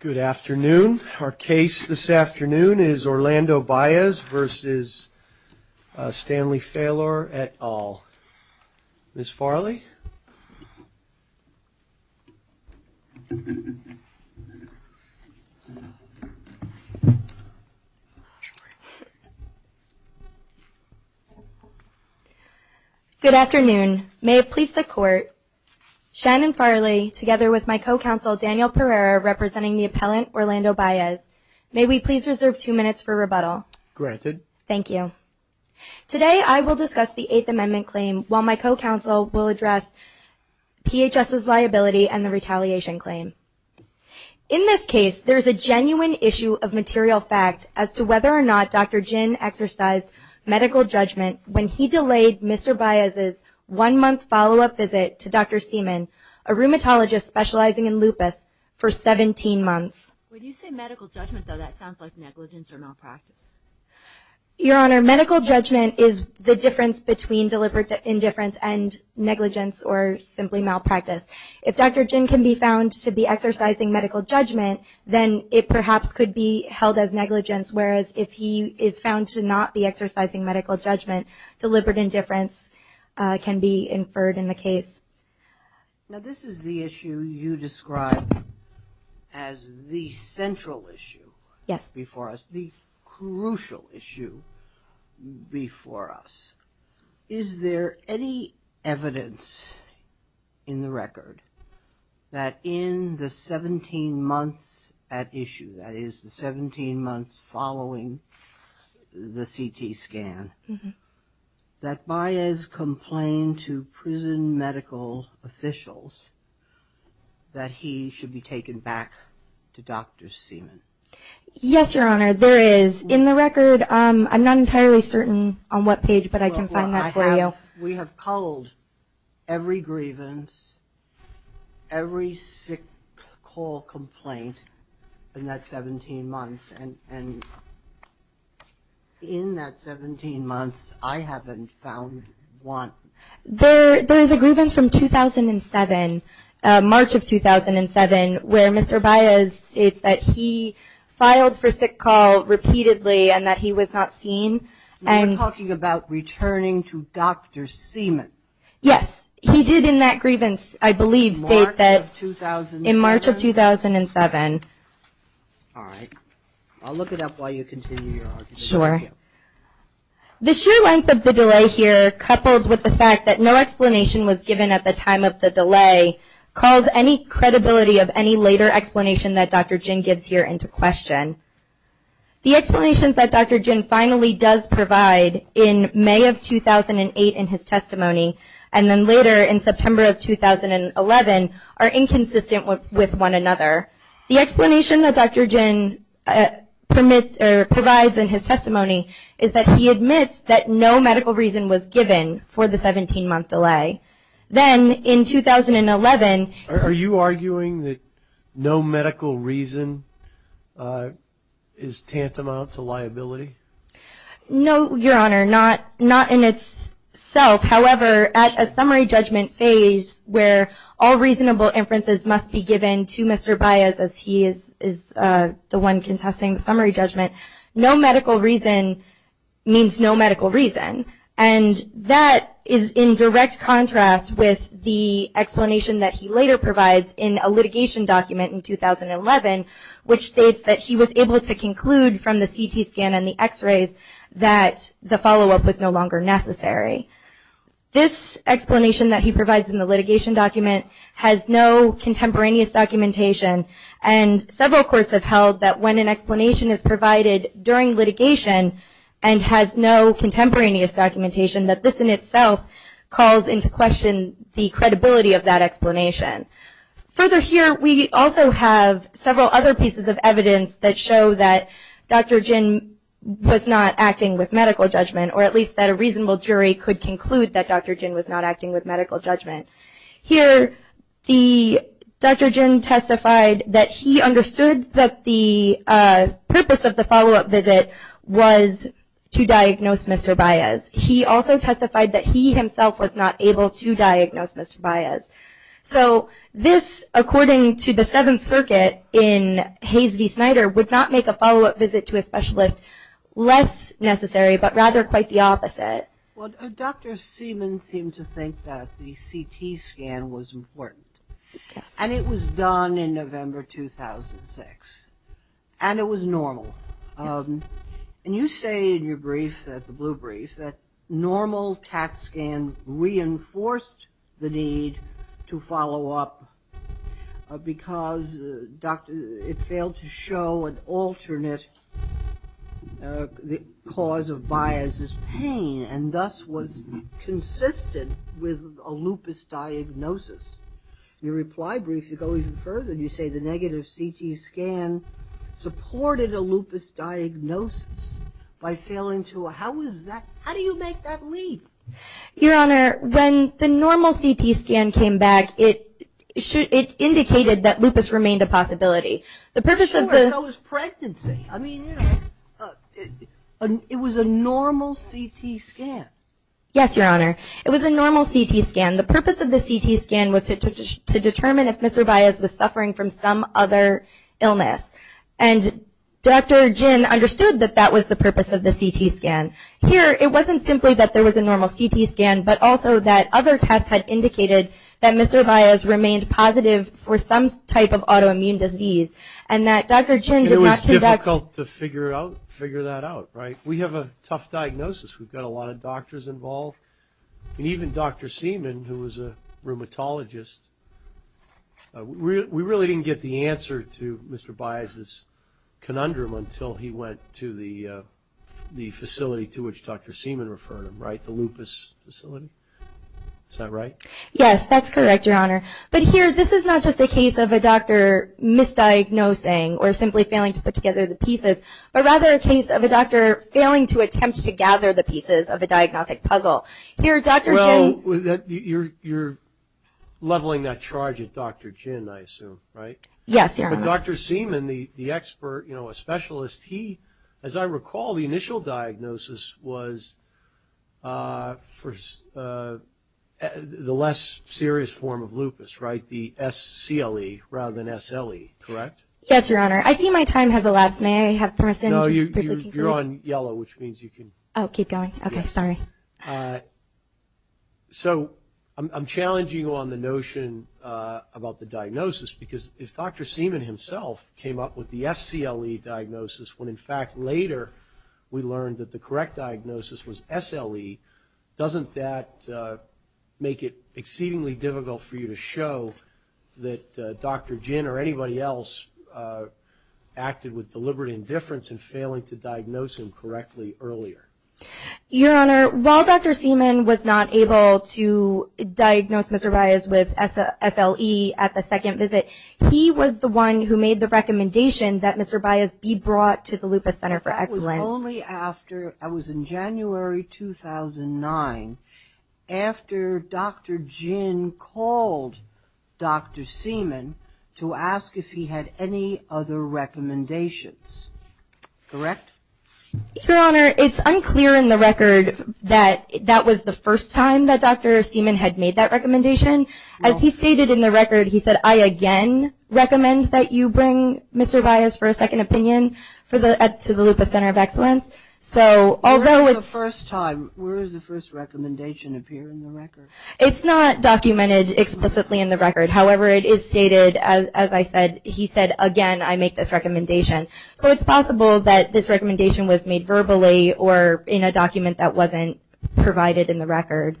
Good afternoon. Our case this afternoon is Orlando Baez v. Stanley Falor et al. Ms. Farley? Good afternoon. May it please the Court, Shannon Farley together with my co-counsel Daniel Pereira representing the appellant Orlando Baez, may we please reserve two minutes for rebuttal. Granted. Thank you. Today I will discuss the Eighth Amendment claim while my co-counsel will address PHS's liability and the retaliation claim. In this case, there is a genuine issue of material fact as to whether or not Dr. Jin exercised medical judgment when he delayed Mr. Baez's one-month follow-up visit to Dr. Seaman, a rheumatologist specializing in lupus, for 17 months. When you say medical judgment, though, that sounds like negligence or malpractice. Your Honor, medical judgment is the difference between deliberate indifference and negligence or simply malpractice. If Dr. Jin can be found to be exercising medical judgment, then it perhaps could be held as negligence, whereas if he is found to not be exercising medical judgment, deliberate indifference can be inferred in the case. Now, this is the issue you describe as the central issue before us, the crucial issue before us. Is there any evidence in the record that in the 17 months at issue, that is, the 17 months following the CT scan, that Baez complained to prison medical officials that he should be taken back to Dr. Seaman? Yes, Your Honor, there is. In the record, I'm not entirely certain on what page, but I can find that for you. We have culled every grievance, every sick call complaint in that 17 months, and in that 17 months, I haven't found one. There is a grievance from 2007, March of 2007, where Mr. Baez states that he filed for sick call repeatedly and that he was not seen. You're talking about returning to Dr. Seaman. Yes, he did in that grievance, I believe, state that in March of 2007. All right. I'll look it up while you continue your argument. Sure. The sheer length of the delay here, coupled with the fact that no explanation was given at the time of the delay, calls any credibility of any later explanation that Dr. Ginn gives here into question. The explanations that Dr. Ginn finally does provide in May of 2008 in his testimony, and then later in September of 2011, are inconsistent with one another. The explanation that Dr. Ginn provides in his testimony is that he admits that no medical reason was given for the 17-month delay. Then in 2011 – Are you arguing that no medical reason is tantamount to liability? No, Your Honor, not in itself. However, at a summary judgment phase where all reasonable inferences must be given to Mr. Baez, as he is the one contesting the summary judgment, no medical reason means no medical reason. And that is in direct contrast with the explanation that he later provides in a litigation document in 2011, which states that he was able to conclude from the CT scan and the x-rays that the follow-up was no longer necessary. This explanation that he provides in the litigation document has no contemporaneous documentation, and several courts have held that when an explanation is provided during litigation and has no contemporaneous documentation, that this in itself calls into question the credibility of that explanation. Further here, we also have several other pieces of evidence that show that Dr. Ginn was not acting with medical judgment, or at least that a reasonable jury could conclude that Dr. Ginn was not acting with medical judgment. Here, Dr. Ginn testified that he understood that the purpose of the follow-up visit was to diagnose Mr. Baez. He also testified that he himself was not able to diagnose Mr. Baez. So this, according to the Seventh Circuit in Hayes v. Snyder, would not make a follow-up visit to a specialist less necessary, but rather quite the opposite. Well, Dr. Seaman seemed to think that the CT scan was important. And it was done in November 2006. And it was normal. And you say in your brief, the blue brief, that normal CAT scan reinforced the need to follow up because it failed to show an alternate cause of Baez's pain, and thus was consistent with a lupus diagnosis. In your reply brief, you go even further. You say the negative CT scan supported a lupus diagnosis by failing to – how do you make that leap? Your Honor, when the normal CT scan came back, it indicated that lupus remained a possibility. Sure, so was pregnancy. I mean, it was a normal CT scan. Yes, Your Honor. It was a normal CT scan. The purpose of the CT scan was to determine if Mr. Baez was suffering from some other illness. And Dr. Jin understood that that was the purpose of the CT scan. Here, it wasn't simply that there was a normal CT scan, but also that other tests had indicated that Mr. Baez remained positive for some type of autoimmune disease, and that Dr. Jin did not conduct – It was difficult to figure that out, right? We have a tough diagnosis. We've got a lot of doctors involved. And even Dr. Seaman, who was a rheumatologist, we really didn't get the answer to Mr. Baez's conundrum until he went to the facility to which Dr. Seaman referred him, right, the lupus facility? Is that right? Yes, that's correct, Your Honor. But here, this is not just a case of a doctor misdiagnosing or simply failing to put together the pieces, but rather a case of a doctor failing to attempt to gather the pieces of a diagnostic puzzle. Here, Dr. Jin – Well, you're leveling that charge at Dr. Jin, I assume, right? Yes, Your Honor. But Dr. Seaman, the expert, you know, a specialist, he, as I recall, the initial diagnosis was for the less serious form of lupus, right, the SCLE rather than SLE, correct? Yes, Your Honor. I see my time has elapsed. May I have permission to briefly conclude? No, you're on yellow, which means you can – Oh, keep going? Okay, sorry. So I'm challenging you on the notion about the diagnosis, because if Dr. Seaman himself came up with the SCLE diagnosis when, in fact, later we learned that the correct diagnosis was SLE, doesn't that make it exceedingly difficult for you to show that Dr. Jin or anybody else acted with deliberate indifference in failing to diagnose him correctly earlier? Your Honor, while Dr. Seaman was not able to diagnose Mr. Baez with SLE at the second visit, he was the one who made the recommendation that Mr. Baez be brought to the Lupus Center for Excellence. Only after – that was in January 2009, after Dr. Jin called Dr. Seaman to ask if he had any other recommendations, correct? Your Honor, it's unclear in the record that that was the first time that Dr. Seaman had made that recommendation. As he stated in the record, he said, I again recommend that you bring Mr. Baez for a second opinion to the Lupus Center of Excellence. So although it's – Where is the first time? Where does the first recommendation appear in the record? It's not documented explicitly in the record. However, it is stated, as I said, he said, again, I make this recommendation. So it's possible that this recommendation was made verbally or in a document that wasn't provided in the record.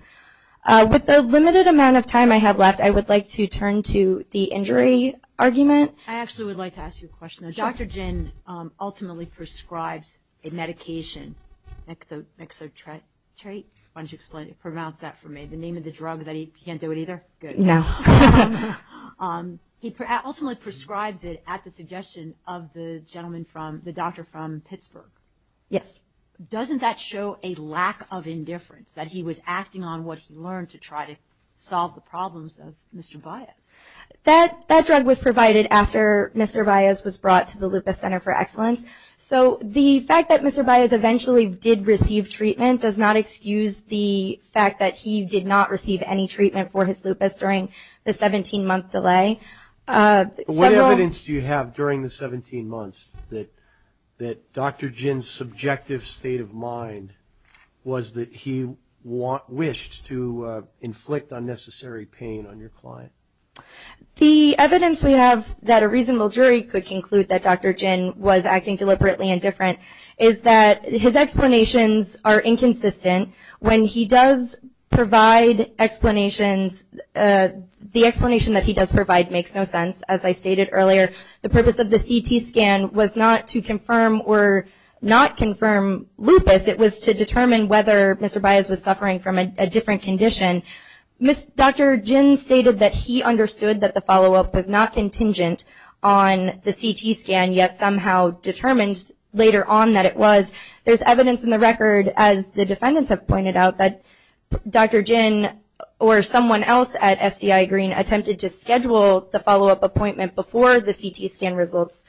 With the limited amount of time I have left, I would like to turn to the injury argument. I actually would like to ask you a question. Sure. Dr. Jin ultimately prescribes a medication, Mexotretrate. Why don't you explain it? Pronounce that for me. The name of the drug that he – he can't do it either? Good. No. He ultimately prescribes it at the suggestion of the gentleman from – the doctor from Pittsburgh. Yes. Doesn't that show a lack of indifference, that he was acting on what he learned to try to solve the problems of Mr. Baez? That drug was provided after Mr. Baez was brought to the Lupus Center for Excellence. So the fact that Mr. Baez eventually did receive treatment does not excuse the fact that he did not receive any treatment for his lupus during the 17-month delay. What evidence do you have during the 17 months that Dr. Jin's subjective state of mind was that he wished to inflict unnecessary pain on your client? The evidence we have that a reasonable jury could conclude that Dr. Jin was acting deliberately indifferent is that his explanations are inconsistent. When he does provide explanations, the explanation that he does provide makes no sense. As I stated earlier, the purpose of the CT scan was not to confirm or not confirm lupus. It was to determine whether Mr. Baez was suffering from a different condition. Dr. Jin stated that he understood that the follow-up was not contingent on the CT scan, yet somehow determined later on that it was. There's evidence in the record, as the defendants have pointed out, that Dr. Jin or someone else at SCI Green attempted to schedule the follow-up appointment before the CT scan results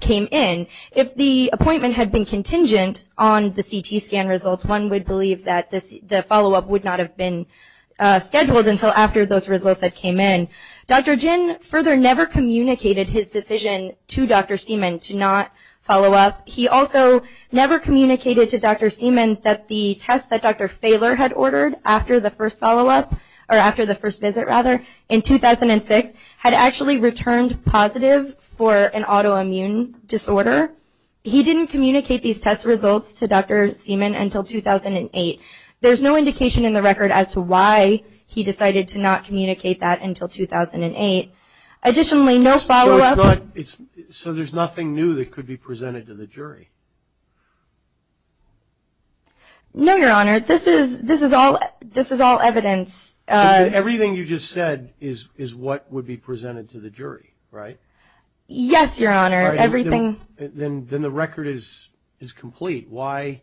came in. If the appointment had been contingent on the CT scan results, one would believe that the follow-up would not have been scheduled until after those results had came in. Dr. Jin further never communicated his decision to Dr. Seaman to not follow up. He also never communicated to Dr. Seaman that the test that Dr. Fahler had ordered after the first follow-up, or after the first visit, rather, in 2006, had actually returned positive for an autoimmune disorder. He didn't communicate these test results to Dr. Seaman until 2008. There's no indication in the record as to why he decided to not communicate that until 2008. Additionally, no follow-up. So there's nothing new that could be presented to the jury? No, Your Honor. This is all evidence. Everything you just said is what would be presented to the jury, right? Yes, Your Honor. Everything. Then the record is complete. Why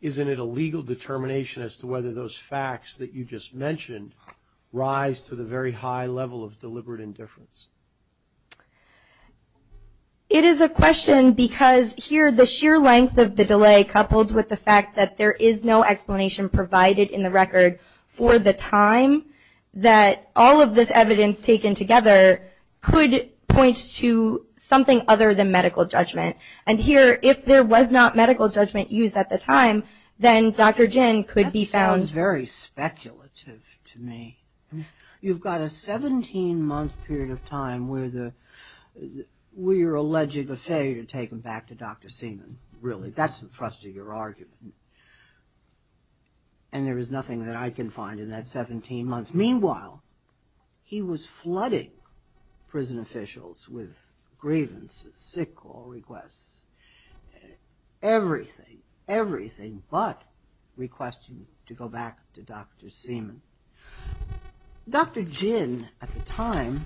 isn't it a legal determination as to whether those facts that you just mentioned rise to the very high level of deliberate indifference? It is a question because here the sheer length of the delay, coupled with the fact that there is no explanation provided in the record for the time, that all of this evidence taken together could point to something other than medical judgment. And here, if there was not medical judgment used at the time, then Dr. Jin could be found. That is very speculative to me. You've got a 17-month period of time where you're alleging a failure to take him back to Dr. Seaman. Really, that's the thrust of your argument. And there is nothing that I can find in that 17 months. Meanwhile, he was flooding prison officials with grievances, sick call requests, everything, but requesting to go back to Dr. Seaman. Dr. Jin, at the time,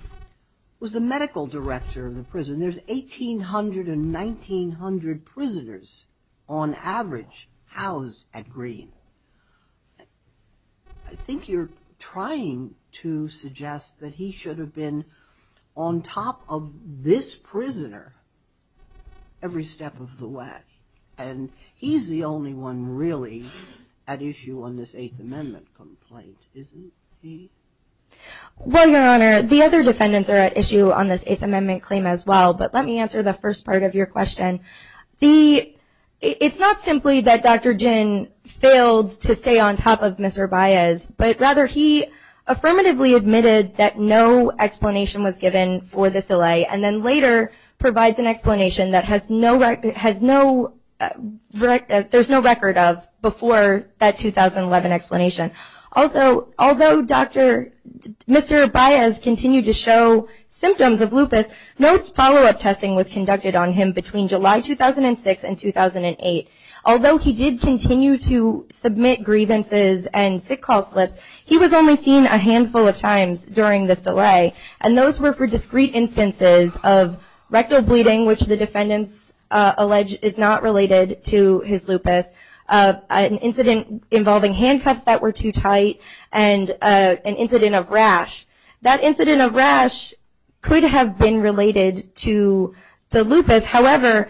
was the medical director of the prison. There's 1,800 to 1,900 prisoners, on average, housed at Green. I think you're trying to suggest that he should have been on top of this prisoner every step of the way. And he's the only one really at issue on this Eighth Amendment complaint, isn't he? Well, Your Honor, the other defendants are at issue on this Eighth Amendment claim as well. But let me answer the first part of your question. It's not simply that Dr. Jin failed to stay on top of Mr. Baez, but rather he affirmatively admitted that no explanation was given for this delay and then later provides an explanation that there's no record of before that 2011 explanation. Also, although Mr. Baez continued to show symptoms of lupus, no follow-up testing was conducted on him between July 2006 and 2008. Although he did continue to submit grievances and sick call slips, he was only seen a handful of times during this delay. And those were for discrete instances of rectal bleeding, which the defendants allege is not related to his lupus, an incident involving handcuffs that were too tight, and an incident of rash. That incident of rash could have been related to the lupus. However,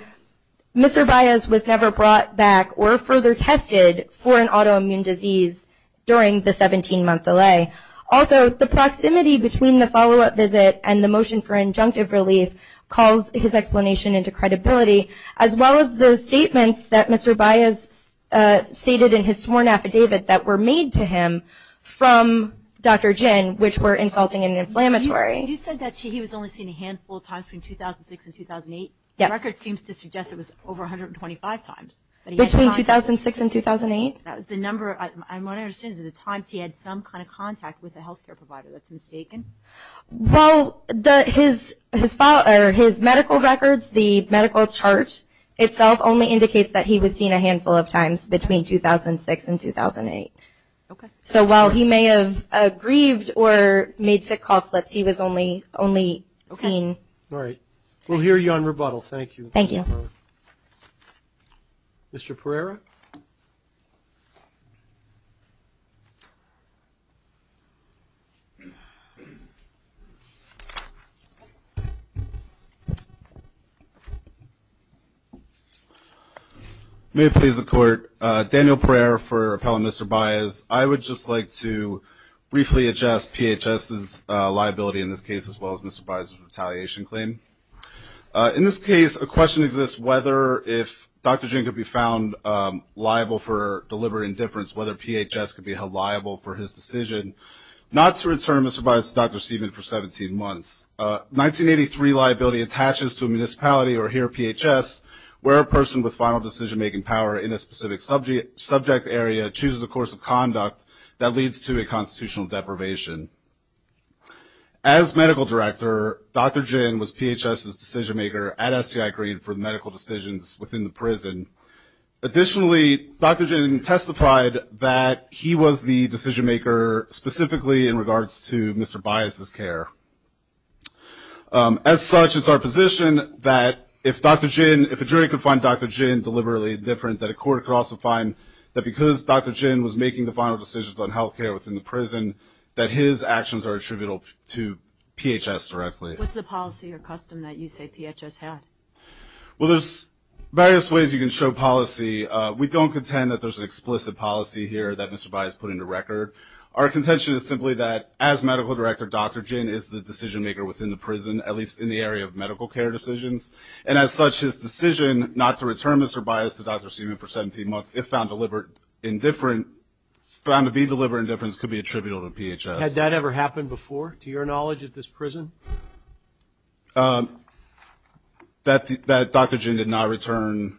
Mr. Baez was never brought back or further tested for an autoimmune disease during the 17-month delay. Also, the proximity between the follow-up visit and the motion for injunctive relief calls his explanation into credibility, as well as the statements that Mr. Baez stated in his sworn affidavit that were made to him from Dr. Jin, which were insulting and inflammatory. You said that he was only seen a handful of times between 2006 and 2008? Yes. The record seems to suggest it was over 125 times. Between 2006 and 2008? That was the number of times he had some kind of contact with a health care provider. That's mistaken? Well, his medical records, the medical chart itself only indicates that he was seen a handful of times between 2006 and 2008. Okay. So while he may have grieved or made sick call slips, he was only seen. All right. We'll hear you on rebuttal. Thank you. Thank you. Mr. Pereira? May it please the Court, Daniel Pereira for Appellant Mr. Baez. I would just like to briefly address PHS's liability in this case, as well as Mr. Baez's retaliation claim. In this case, a question exists whether if Dr. Jin could be found liable for deliberate indifference, whether PHS could be held liable for his decision not to return Mr. Baez to Dr. Stephen for 17 months. 1983 liability attaches to a municipality, or here PHS, where a person with final decision-making power in a specific subject area chooses a course of conduct that leads to a constitutional deprivation. As medical director, Dr. Jin was PHS's decision-maker at SCI Green for medical decisions within the prison. Additionally, Dr. Jin testified that he was the decision-maker specifically in regards to Mr. Baez's care. As such, it's our position that if Dr. Jin, if a jury could find Dr. Jin deliberately indifferent, that a court could also find that because Dr. Jin was making the final decisions on health care within the prison, that his actions are attributable to PHS directly. What's the policy or custom that you say PHS had? Well, there's various ways you can show policy. We don't contend that there's an explicit policy here that Mr. Baez put into record. Our contention is simply that as medical director, Dr. Jin is the decision-maker within the prison, at least in the area of medical care decisions. And as such, his decision not to return Mr. Baez to Dr. Stephen for 17 months, if found deliberate indifference, found to be deliberate indifference, could be attributable to PHS. Had that ever happened before, to your knowledge, at this prison? That Dr. Jin did not return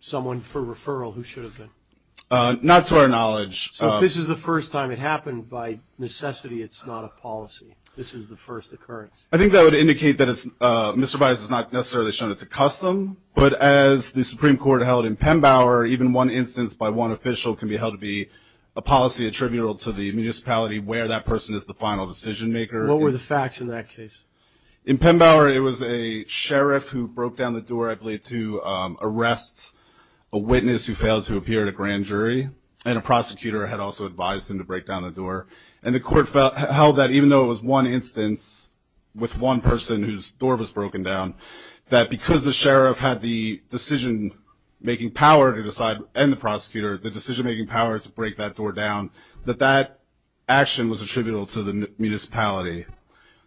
someone for referral, who should have been? Not to our knowledge. So if this is the first time it happened, by necessity it's not a policy. This is the first occurrence. I think that would indicate that Mr. Baez has not necessarily shown it's a custom, but as the Supreme Court held in Pembauer, even one instance by one official can be held to be a policy attributable to the municipality where that person is the final decision-maker. What were the facts in that case? In Pembauer, it was a sheriff who broke down the door, I believe, to arrest a witness who failed to appear at a grand jury, and a prosecutor had also advised him to break down the door. And the court held that even though it was one instance with one person whose door was broken down, that because the sheriff had the decision-making power to decide, and the prosecutor, the decision-making power to break that door down, that that action was attributable to the municipality.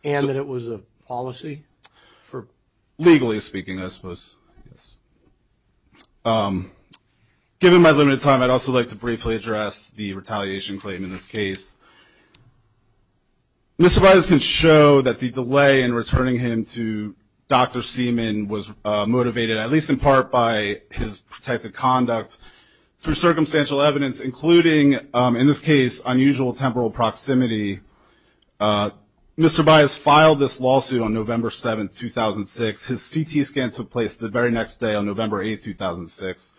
And that it was a policy? Legally speaking, I suppose, yes. Given my limited time, I'd also like to briefly address the retaliation claim in this case. Mr. Baez can show that the delay in returning him to Dr. Seaman was motivated, at least in part, by his protected conduct through circumstantial evidence, including, in this case, unusual temporal proximity. Mr. Baez filed this lawsuit on November 7, 2006. His CT scan took place the very next day on November 8, 2006.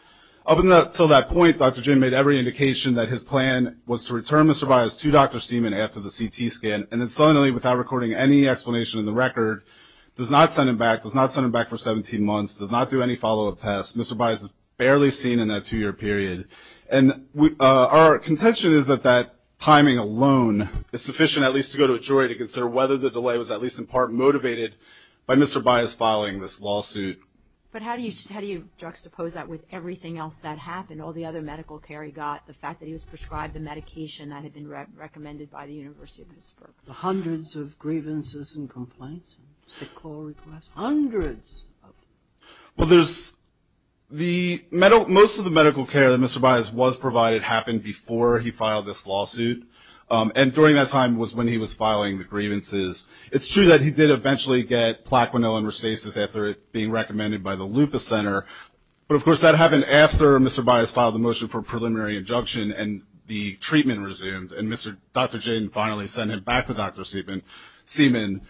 Up until that point, Dr. Ginn made every indication that his plan was to return Mr. Baez to Dr. Seaman after the CT scan, and then suddenly, without recording any explanation in the record, does not send him back, does not send him back for 17 months, does not do any follow-up tests. Mr. Baez is barely seen in that two-year period. And our contention is that that timing alone is sufficient, at least to go to a jury, to consider whether the delay was, at least in part, motivated by Mr. Baez filing this lawsuit. But how do you juxtapose that with everything else that happened, all the other medical care he got, the fact that he was prescribed the medication that had been recommended by the University of Pittsburgh? The hundreds of grievances and complaints, sick call requests, hundreds of them. Well, there's the medical – most of the medical care that Mr. Baez was provided happened before he filed this lawsuit, and during that time was when he was filing the grievances. It's true that he did eventually get plaquenilin restasis after it being recommended by the Lupus Center. But, of course, that happened after Mr. Baez filed the motion for a preliminary injunction and the treatment resumed and Dr. Jin finally sent him back to Dr. Seaman.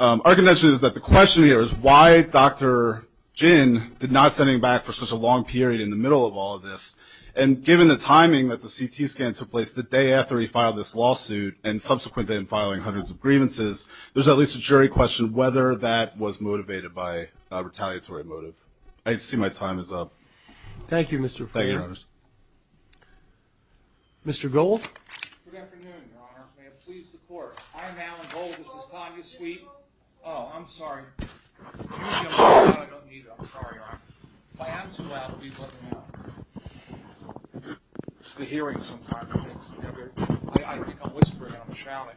Our contention is that the question here is why Dr. Jin did not send him back for such a long period in the middle of all of this. And given the timing that the CT scan took place the day after he filed this lawsuit and subsequent to him filing hundreds of grievances, there's at least a jury question whether that was motivated by a retaliatory motive. I see my time is up. Thank you, Mr. Frater. Thank you, Your Honors. Mr. Gold? Good afternoon, Your Honor. May it please the Court. I am Alan Gold. This is Tanya Sweet. Oh, I'm sorry. I don't need it. I'm sorry, Your Honor. If I am too loud, please let me know. It's the hearings sometimes. I think I'm whispering and I'm shouting.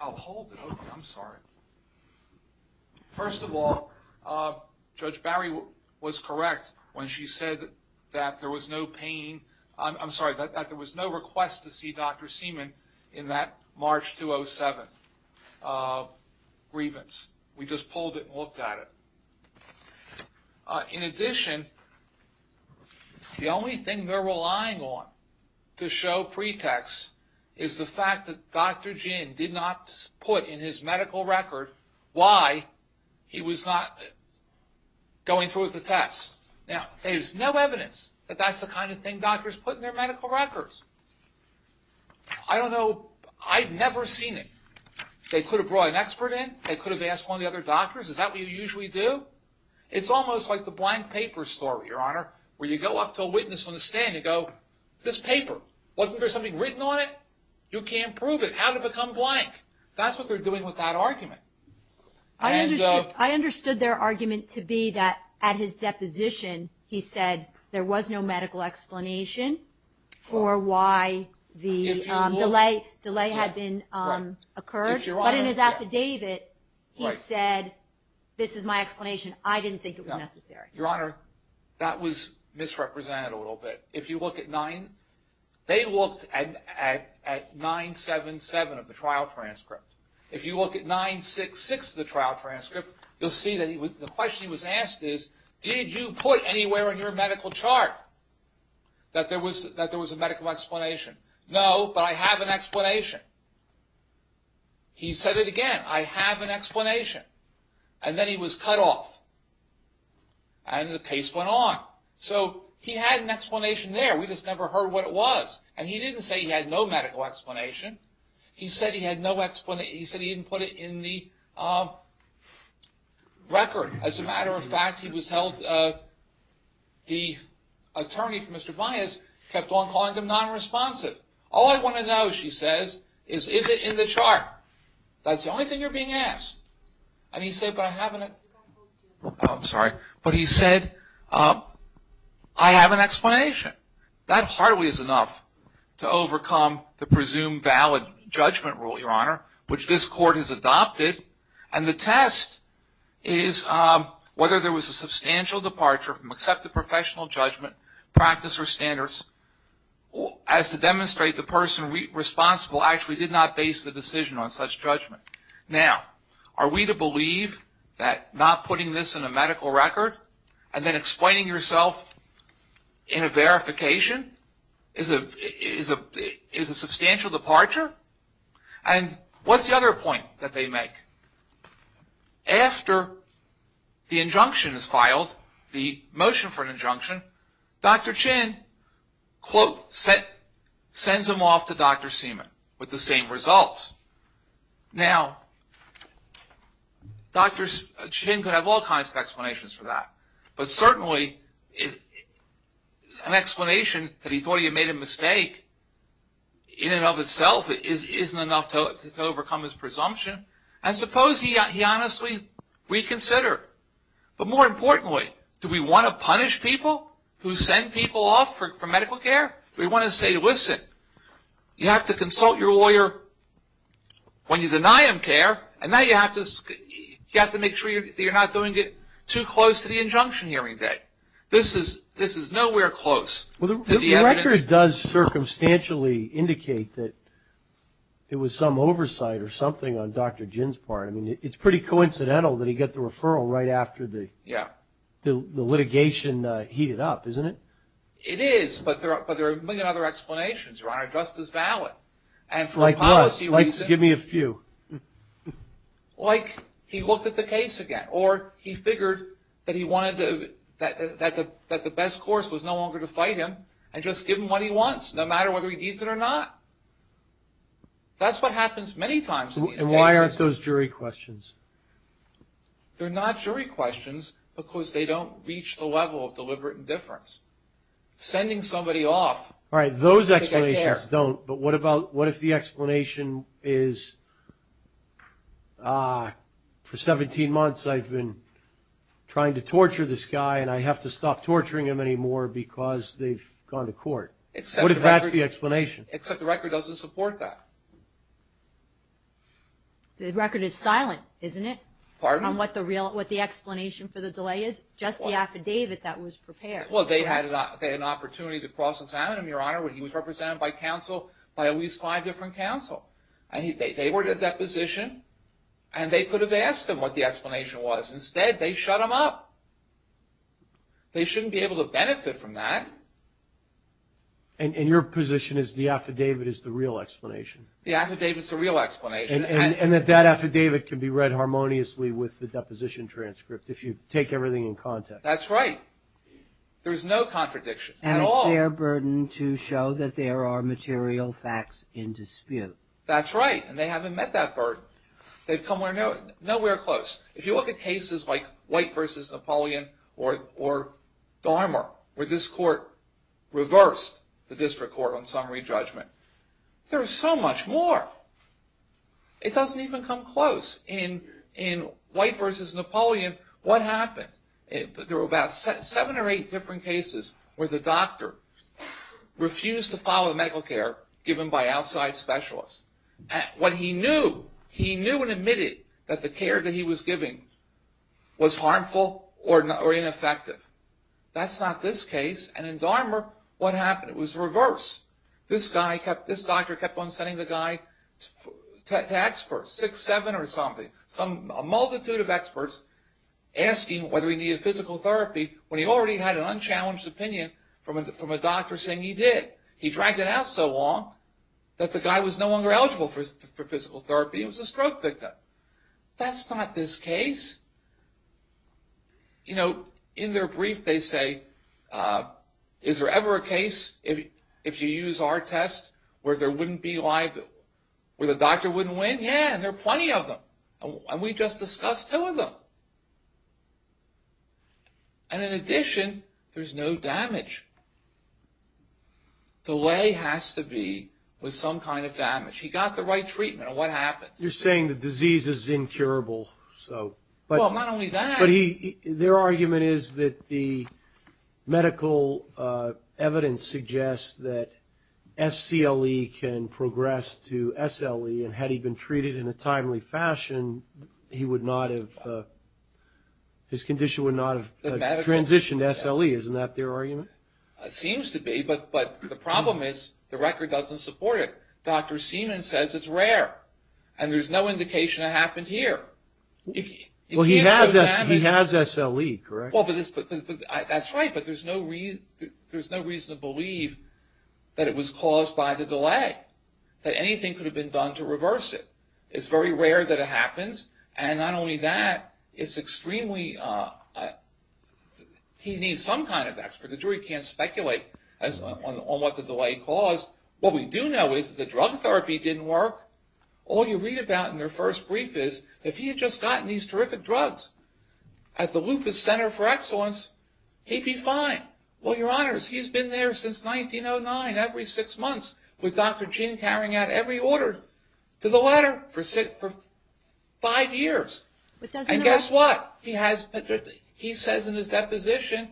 I'll hold it. I'm sorry. First of all, Judge Barry was correct when she said that there was no pain. I'm sorry, that there was no request to see Dr. Seaman in that March 2007 grievance. We just pulled it and looked at it. In addition, the only thing they're relying on to show pretext is the fact that Dr. Jin did not put in his medical record why he was not going through with the test. Now, there's no evidence that that's the kind of thing doctors put in their medical records. I don't know. I've never seen it. They could have brought an expert in. They could have asked one of the other doctors. Is that what you usually do? It's almost like the blank paper story, Your Honor, where you go up to a witness on the stand and go, this paper, wasn't there something written on it? You can't prove it. How did it become blank? That's what they're doing with that argument. I understood their argument to be that at his deposition he said there was no medical explanation for why the delay had occurred. But in his affidavit, he said, this is my explanation. I didn't think it was necessary. Your Honor, that was misrepresented a little bit. They looked at 977 of the trial transcript. If you look at 966 of the trial transcript, you'll see that the question he was asked is, did you put anywhere in your medical chart that there was a medical explanation? No, but I have an explanation. He said it again. I have an explanation. And then he was cut off. And the case went on. So he had an explanation there. We just never heard what it was. And he didn't say he had no medical explanation. He said he had no explanation. He said he didn't put it in the record. As a matter of fact, the attorney for Mr. Bias kept on calling him nonresponsive. All I want to know, she says, is, is it in the chart? That's the only thing you're being asked. And he said, but I have an explanation. I'm sorry. But he said, I have an explanation. That hardly is enough to overcome the presumed valid judgment rule, Your Honor, which this court has adopted. And the test is whether there was a substantial departure from accepted professional judgment, practice or standards, as to demonstrate the person responsible actually did not base the decision on such judgment. Now, are we to believe that not putting this in a medical record and then explaining yourself in a verification is a substantial departure? And what's the other point that they make? After the injunction is filed, the motion for an injunction, Dr. Chin, quote, sends him off to Dr. Seaman with the same results. Now, Dr. Chin could have all kinds of explanations for that. But certainly an explanation that he thought he had made a mistake, in and of itself, isn't enough to overcome his presumption. And suppose he honestly reconsidered. But more importantly, do we want to punish people who send people off for medical care? Do we want to say, listen, you have to consult your lawyer when you deny him care, and now you have to make sure that you're not doing it too close to the injunction hearing date. This is nowhere close to the evidence. Well, the record does circumstantially indicate that it was some oversight or something on Dr. Chin's part. I mean, it's pretty coincidental that he got the referral right after the litigation heated up, isn't it? It is, but there are a million other explanations, Your Honor, just as valid. Like what? Like, give me a few. Like he looked at the case again, or he figured that the best course was no longer to fight him and just give him what he wants, no matter whether he needs it or not. That's what happens many times in these cases. And why aren't those jury questions? They're not jury questions because they don't reach the level of deliberate indifference. Sending somebody off to get care. All right, those explanations don't, but what if the explanation is, for 17 months I've been trying to torture this guy, and I have to stop torturing him anymore because they've gone to court? What if that's the explanation? Except the record doesn't support that. The record is silent, isn't it? Pardon? On what the explanation for the delay is? Just the affidavit that was prepared. Well, they had an opportunity to cross-examine him, Your Honor, when he was represented by counsel, by at least five different counsel. They were at a deposition, and they could have asked him what the explanation was. Instead, they shut him up. They shouldn't be able to benefit from that. And your position is the affidavit is the real explanation? The affidavit's the real explanation. And that that affidavit can be read harmoniously with the deposition transcript? If you take everything in context. That's right. There's no contradiction at all. And it's their burden to show that there are material facts in dispute. That's right, and they haven't met that burden. They've come nowhere close. If you look at cases like White v. Napoleon or Dahmer, where this court reversed the district court on summary judgment, there's so much more. It doesn't even come close. In White v. Napoleon, what happened? There were about seven or eight different cases where the doctor refused to follow the medical care given by outside specialists. What he knew, he knew and admitted that the care that he was giving was harmful or ineffective. That's not this case. And in Dahmer, what happened? It was reversed. This doctor kept on sending the guy to experts, six, seven or something, a multitude of experts asking whether he needed physical therapy when he already had an unchallenged opinion from a doctor saying he did. He dragged it out so long that the guy was no longer eligible for physical therapy and was a stroke victim. That's not this case. You know, in their brief they say, is there ever a case if you use our test where the doctor wouldn't win? Yeah, and there are plenty of them. And we just discussed two of them. And in addition, there's no damage. Delay has to be with some kind of damage. He got the right treatment. And what happened? You're saying the disease is incurable. Well, not only that. But their argument is that the medical evidence suggests that SCLE can progress to SLE, and had he been treated in a timely fashion, his condition would not have transitioned to SLE. Isn't that their argument? It seems to be. But the problem is the record doesn't support it. Dr. Seaman says it's rare. And there's no indication it happened here. Well, he has SLE, correct? That's right. But there's no reason to believe that it was caused by the delay, that anything could have been done to reverse it. It's very rare that it happens. And not only that, it's extremely – he needs some kind of expert. The jury can't speculate on what the delay caused. What we do know is the drug therapy didn't work. All you read about in their first brief is, if he had just gotten these terrific drugs at the Lupus Center for Excellence, he'd be fine. Well, Your Honors, he's been there since 1909, every six months, with Dr. Chin carrying out every order to the letter for five years. And guess what? He says in his deposition,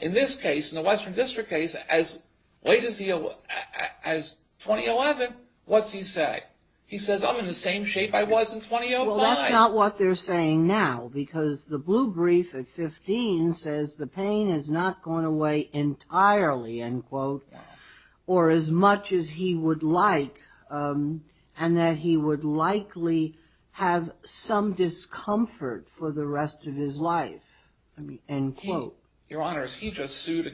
in this case, in the Western District case, as late as 2011, what's he say? He says, I'm in the same shape I was in 2005. Well, that's not what they're saying now, because the blue brief at 15 says the pain has not gone away entirely, end quote, or as much as he would like, and that he would likely have some discomfort for the rest of his life, end quote. So, Your Honors, he just sued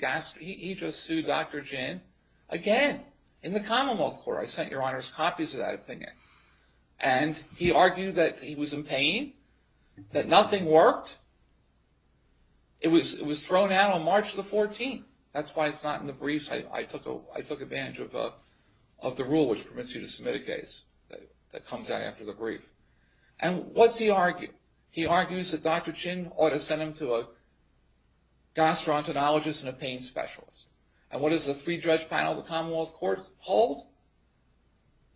Dr. Chin again in the Commonwealth Court. I sent Your Honors copies of that opinion. And he argued that he was in pain, that nothing worked. It was thrown out on March the 14th. That's why it's not in the briefs. I took advantage of the rule, which permits you to submit a case, that comes out after the brief. And what's he argue? He argues that Dr. Chin ought to send him to a gastroenterologist and a pain specialist. And what does the three-judge panel of the Commonwealth Court hold?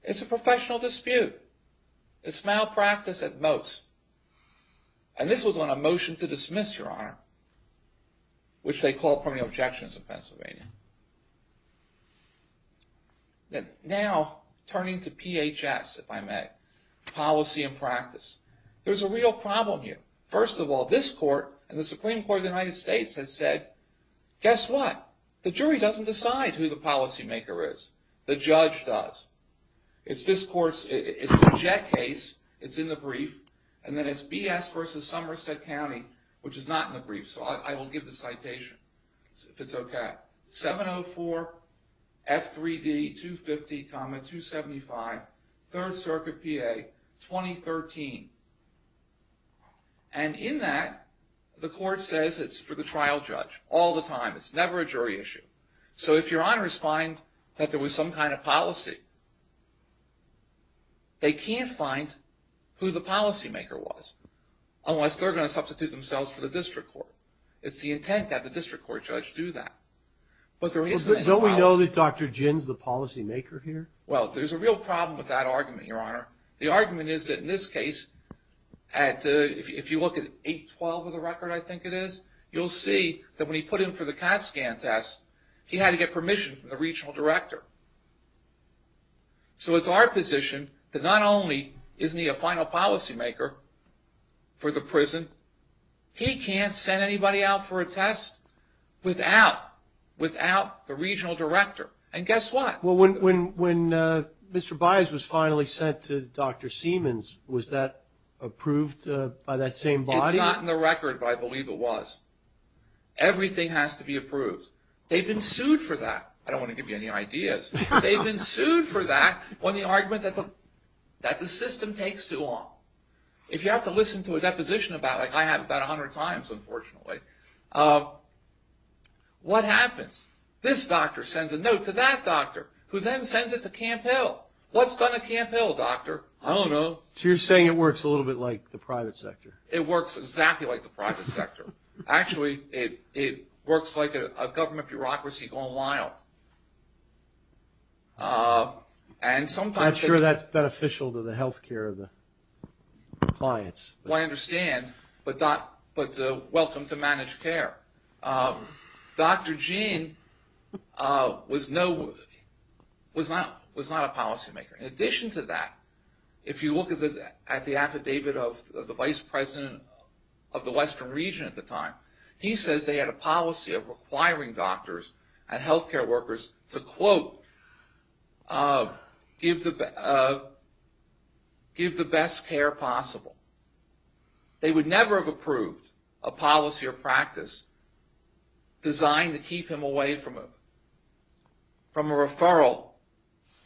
It's a professional dispute. It's malpractice at most. And this was on a motion to dismiss, Your Honor, which they call permitting objections in Pennsylvania. Now, turning to PHS, if I may, policy and practice. There's a real problem here. First of all, this court and the Supreme Court of the United States has said, guess what? The jury doesn't decide who the policymaker is. The judge does. It's this court's, it's the Jet case. It's in the brief. And then it's BS versus Somerset County, which is not in the brief. So I will give the citation, if it's okay. 704 F3D 250, 275 Third Circuit PA 2013. And in that, the court says it's for the trial judge all the time. It's never a jury issue. So if Your Honors find that there was some kind of policy, they can't find who the policymaker was, unless they're going to substitute themselves for the district court. It's the intent that the district court judge do that. But there isn't any policy. Well, don't we know that Dr. Jin's the policymaker here? Well, there's a real problem with that argument, Your Honor. The argument is that in this case, if you look at 812 of the record, I think it is, you'll see that when he put in for the CAT scan test, he had to get permission from the regional director. So it's our position that not only isn't he a final policymaker for the test, without the regional director. And guess what? Well, when Mr. Baez was finally sent to Dr. Siemens, was that approved by that same body? It's not in the record, but I believe it was. Everything has to be approved. They've been sued for that. I don't want to give you any ideas. They've been sued for that on the argument that the system takes too long. If you have to listen to a deposition about it, like I have about a hundred times, unfortunately, what happens? This doctor sends a note to that doctor, who then sends it to Camp Hill. What's done at Camp Hill, doctor? I don't know. So you're saying it works a little bit like the private sector? It works exactly like the private sector. Actually, it works like a government bureaucracy going wild. And sometimes they can – I'm not sure that's beneficial to the health care of the clients. Well, I understand, but welcome to managed care. Dr. Gene was not a policymaker. In addition to that, if you look at the affidavit of the vice president of the Western region at the time, he says they had a policy of requiring doctors and health care workers to, quote, give the best care possible. They would never have approved a policy or practice designed to keep him away from a referral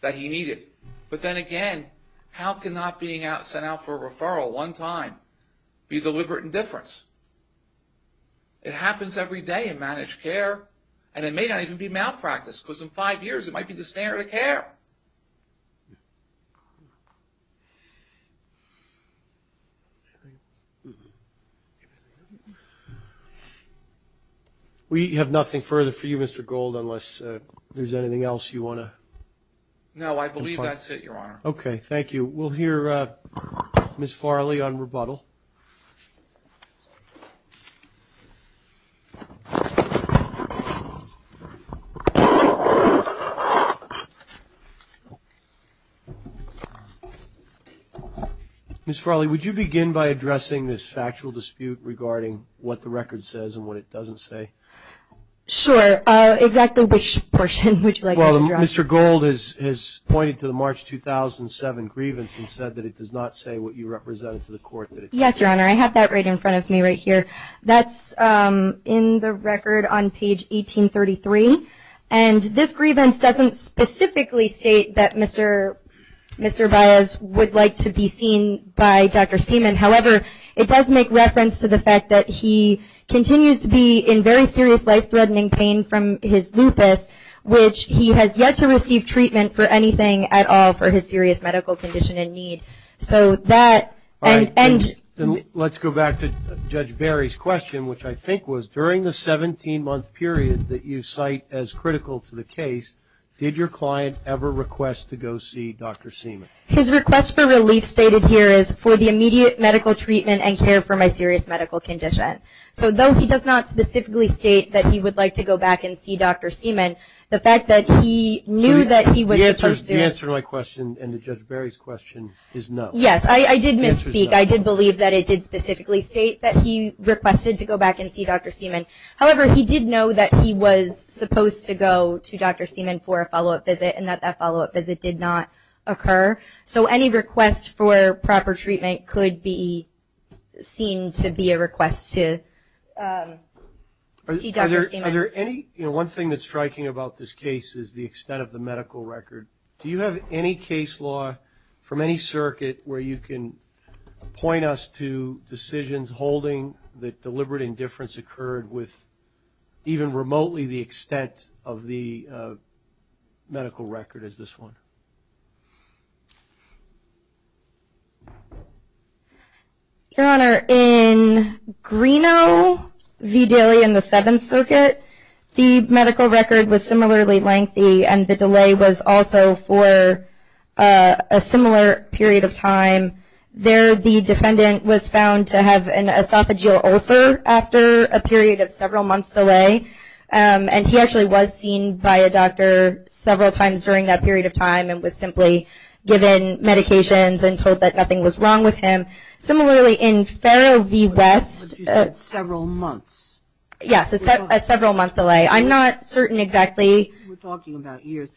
that he needed. But then again, how can not being sent out for a referral one time be deliberate indifference? It happens every day in managed care, and it may not even be malpractice because in five years it might be the standard of care. We have nothing further for you, Mr. Gold, unless there's anything else you want to. No, I believe that's it, Your Honor. Okay, thank you. We'll hear Ms. Farley on rebuttal. Ms. Farley, would you begin by addressing this factual dispute regarding what the record says and what it doesn't say? Sure. Exactly which portion would you like me to address? Mr. Gold has pointed to the March 2007 grievance and said that it does not say what you represented to the court. Yes, Your Honor. I have that right in front of me right here. That's in the record on page 1833, and this grievance doesn't specifically state that Mr. Baez would like to be seen by Dr. Seaman. However, it does make reference to the fact that he continues to be in very serious life-threatening pain from his lupus, which he has yet to receive treatment for anything at all for his serious medical condition and need. Let's go back to Judge Barry's question, which I think was, during the 17-month period that you cite as critical to the case, did your client ever request to go see Dr. Seaman? His request for relief stated here is for the immediate medical treatment and care for my serious medical condition. So though he does not specifically state that he would like to go back and see Dr. Seaman, the fact that he knew that he was supposed to. The answer to my question and to Judge Barry's question is no. Yes, I did misspeak. I did believe that it did specifically state that he requested to go back and see Dr. Seaman. However, he did know that he was supposed to go to Dr. Seaman for a follow-up visit and that that follow-up visit did not occur. So any request for proper treatment could be seen to be a request to see Dr. Seaman. Are there any? You know, one thing that's striking about this case is the extent of the medical record. Do you have any case law from any circuit where you can point us to decisions holding that deliberate indifference occurred with even remotely the extent of the medical record as this one? Your Honor, in Greeno v. Daly in the Seventh Circuit, the medical record was similarly lengthy and the delay was also for a similar period of time. There the defendant was found to have an esophageal ulcer after a period of several months delay, and he actually was seen by a doctor several times during that period of time and was simply given medications and told that nothing was wrong with him. Similarly, in Farrell v. West. But you said several months. Yes, a several-month delay. I'm not certain exactly. We're talking about years.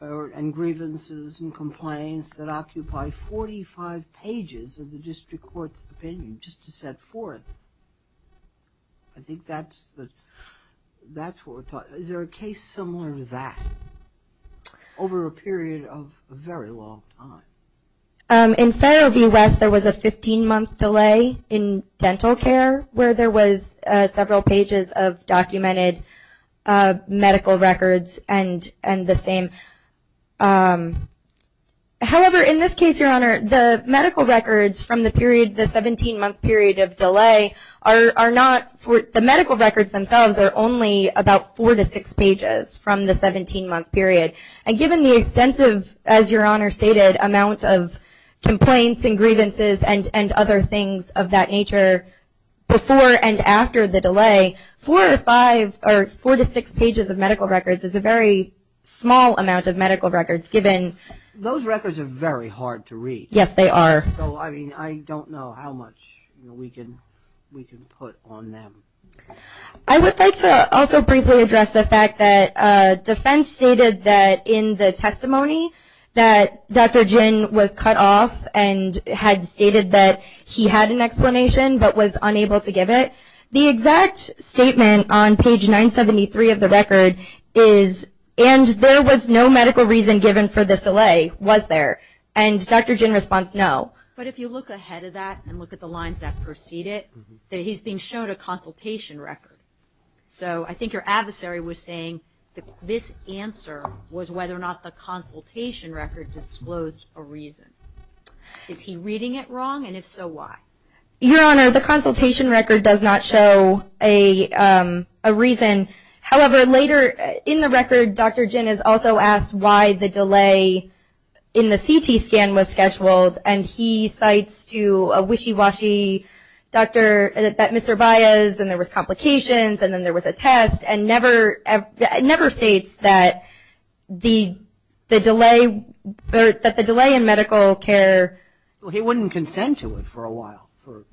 And grievances and complaints that occupy 45 pages of the district court's opinion just to set forth. I think that's what we're talking about. Is there a case similar to that over a period of a very long time? In Farrell v. West there was a 15-month delay in dental care where there was several pages of documented medical records and the same. However, in this case, Your Honor, the medical records from the period, the 17-month period of delay, the medical records themselves are only about four to six pages from the 17-month period. And given the extensive, as Your Honor stated, amount of complaints and grievances and other things of that nature before and after the delay, four to five or four to six pages of medical records is a very small amount of medical records given. Those records are very hard to read. Yes, they are. So, I mean, I don't know how much we can put on them. I would like to also briefly address the fact that defense stated that in the testimony that Dr. Jin was cut off and had stated that he had an explanation but was unable to give it. The exact statement on page 973 of the record is, and there was no medical reason given for this delay, was there? And Dr. Jin's response, no. But if you look ahead of that and look at the lines that precede it, that he's being shown a consultation record. So I think your adversary was saying this answer was whether or not the consultation record disclosed a reason. Is he reading it wrong, and if so, why? Your Honor, the consultation record does not show a reason. However, later in the record, Dr. Jin is also asked why the delay in the CT scan was scheduled, and he cites to a wishy-washy doctor that Mr. Baez, and there was complications, and then there was a test, and never states that the delay in medical care. Well, he wouldn't consent to it for a while, for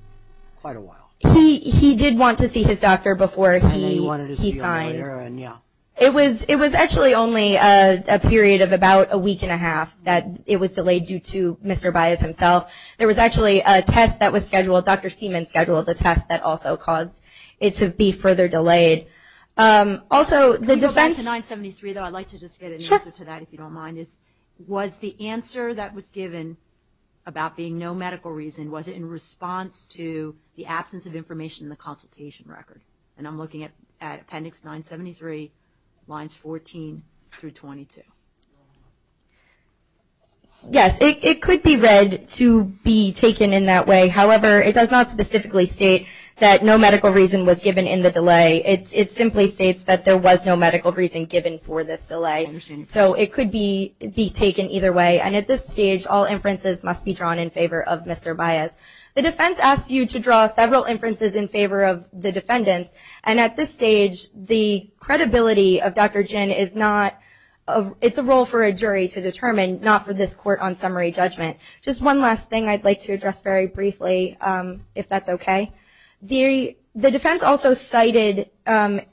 quite a while. He did want to see his doctor before he signed. And then he wanted to see him later, and yeah. It was actually only a period of about a week and a half that it was delayed due to Mr. Baez himself. There was actually a test that was scheduled, Dr. Seaman's schedule, the test that also caused it to be further delayed. Also, the defense- Can we go back to 973, though? I'd like to just get an answer to that, if you don't mind. Was the answer that was given about being no medical reason, was it in response to the absence of information in the consultation record? And I'm looking at appendix 973, lines 14 through 22. Yes, it could be read to be taken in that way. However, it does not specifically state that no medical reason was given in the delay. It simply states that there was no medical reason given for this delay. So it could be taken either way. And at this stage, all inferences must be drawn in favor of Mr. Baez. The defense asks you to draw several inferences in favor of the defendants. And at this stage, the credibility of Dr. Ginn is not-it's a role for a jury to determine, not for this court on summary judgment. Just one last thing I'd like to address very briefly, if that's okay. The defense also cited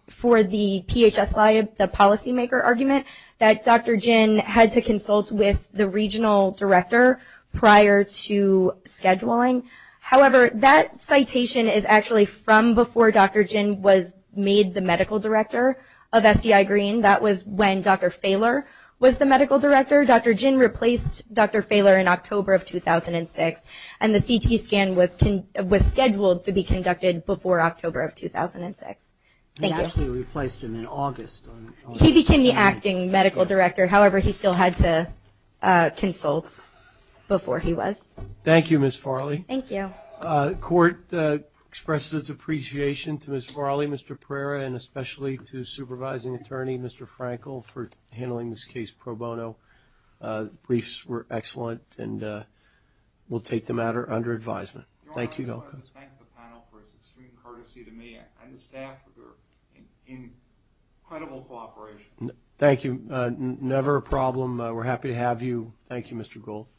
for the PHS liability, the policymaker argument, that Dr. Ginn had to consult with the regional director prior to scheduling. However, that citation is actually from before Dr. Ginn was made the medical director of SCI Green. That was when Dr. Fahler was the medical director. Dr. Ginn replaced Dr. Fahler in October of 2006, and the CT scan was scheduled to be conducted before October of 2006. Thank you. He actually replaced him in August. He became the acting medical director. However, he still had to consult before he was. Thank you, Ms. Farley. Thank you. The court expresses its appreciation to Ms. Farley, Mr. Pereira, and especially to supervising attorney, Mr. Frankel, for handling this case pro bono. Briefs were excellent, and we'll take the matter under advisement. Thank you. I just wanted to thank the panel for its extreme courtesy to me and the staff for their incredible cooperation. Thank you. Never a problem. We're happy to have you. Thank you, Mr. Gould.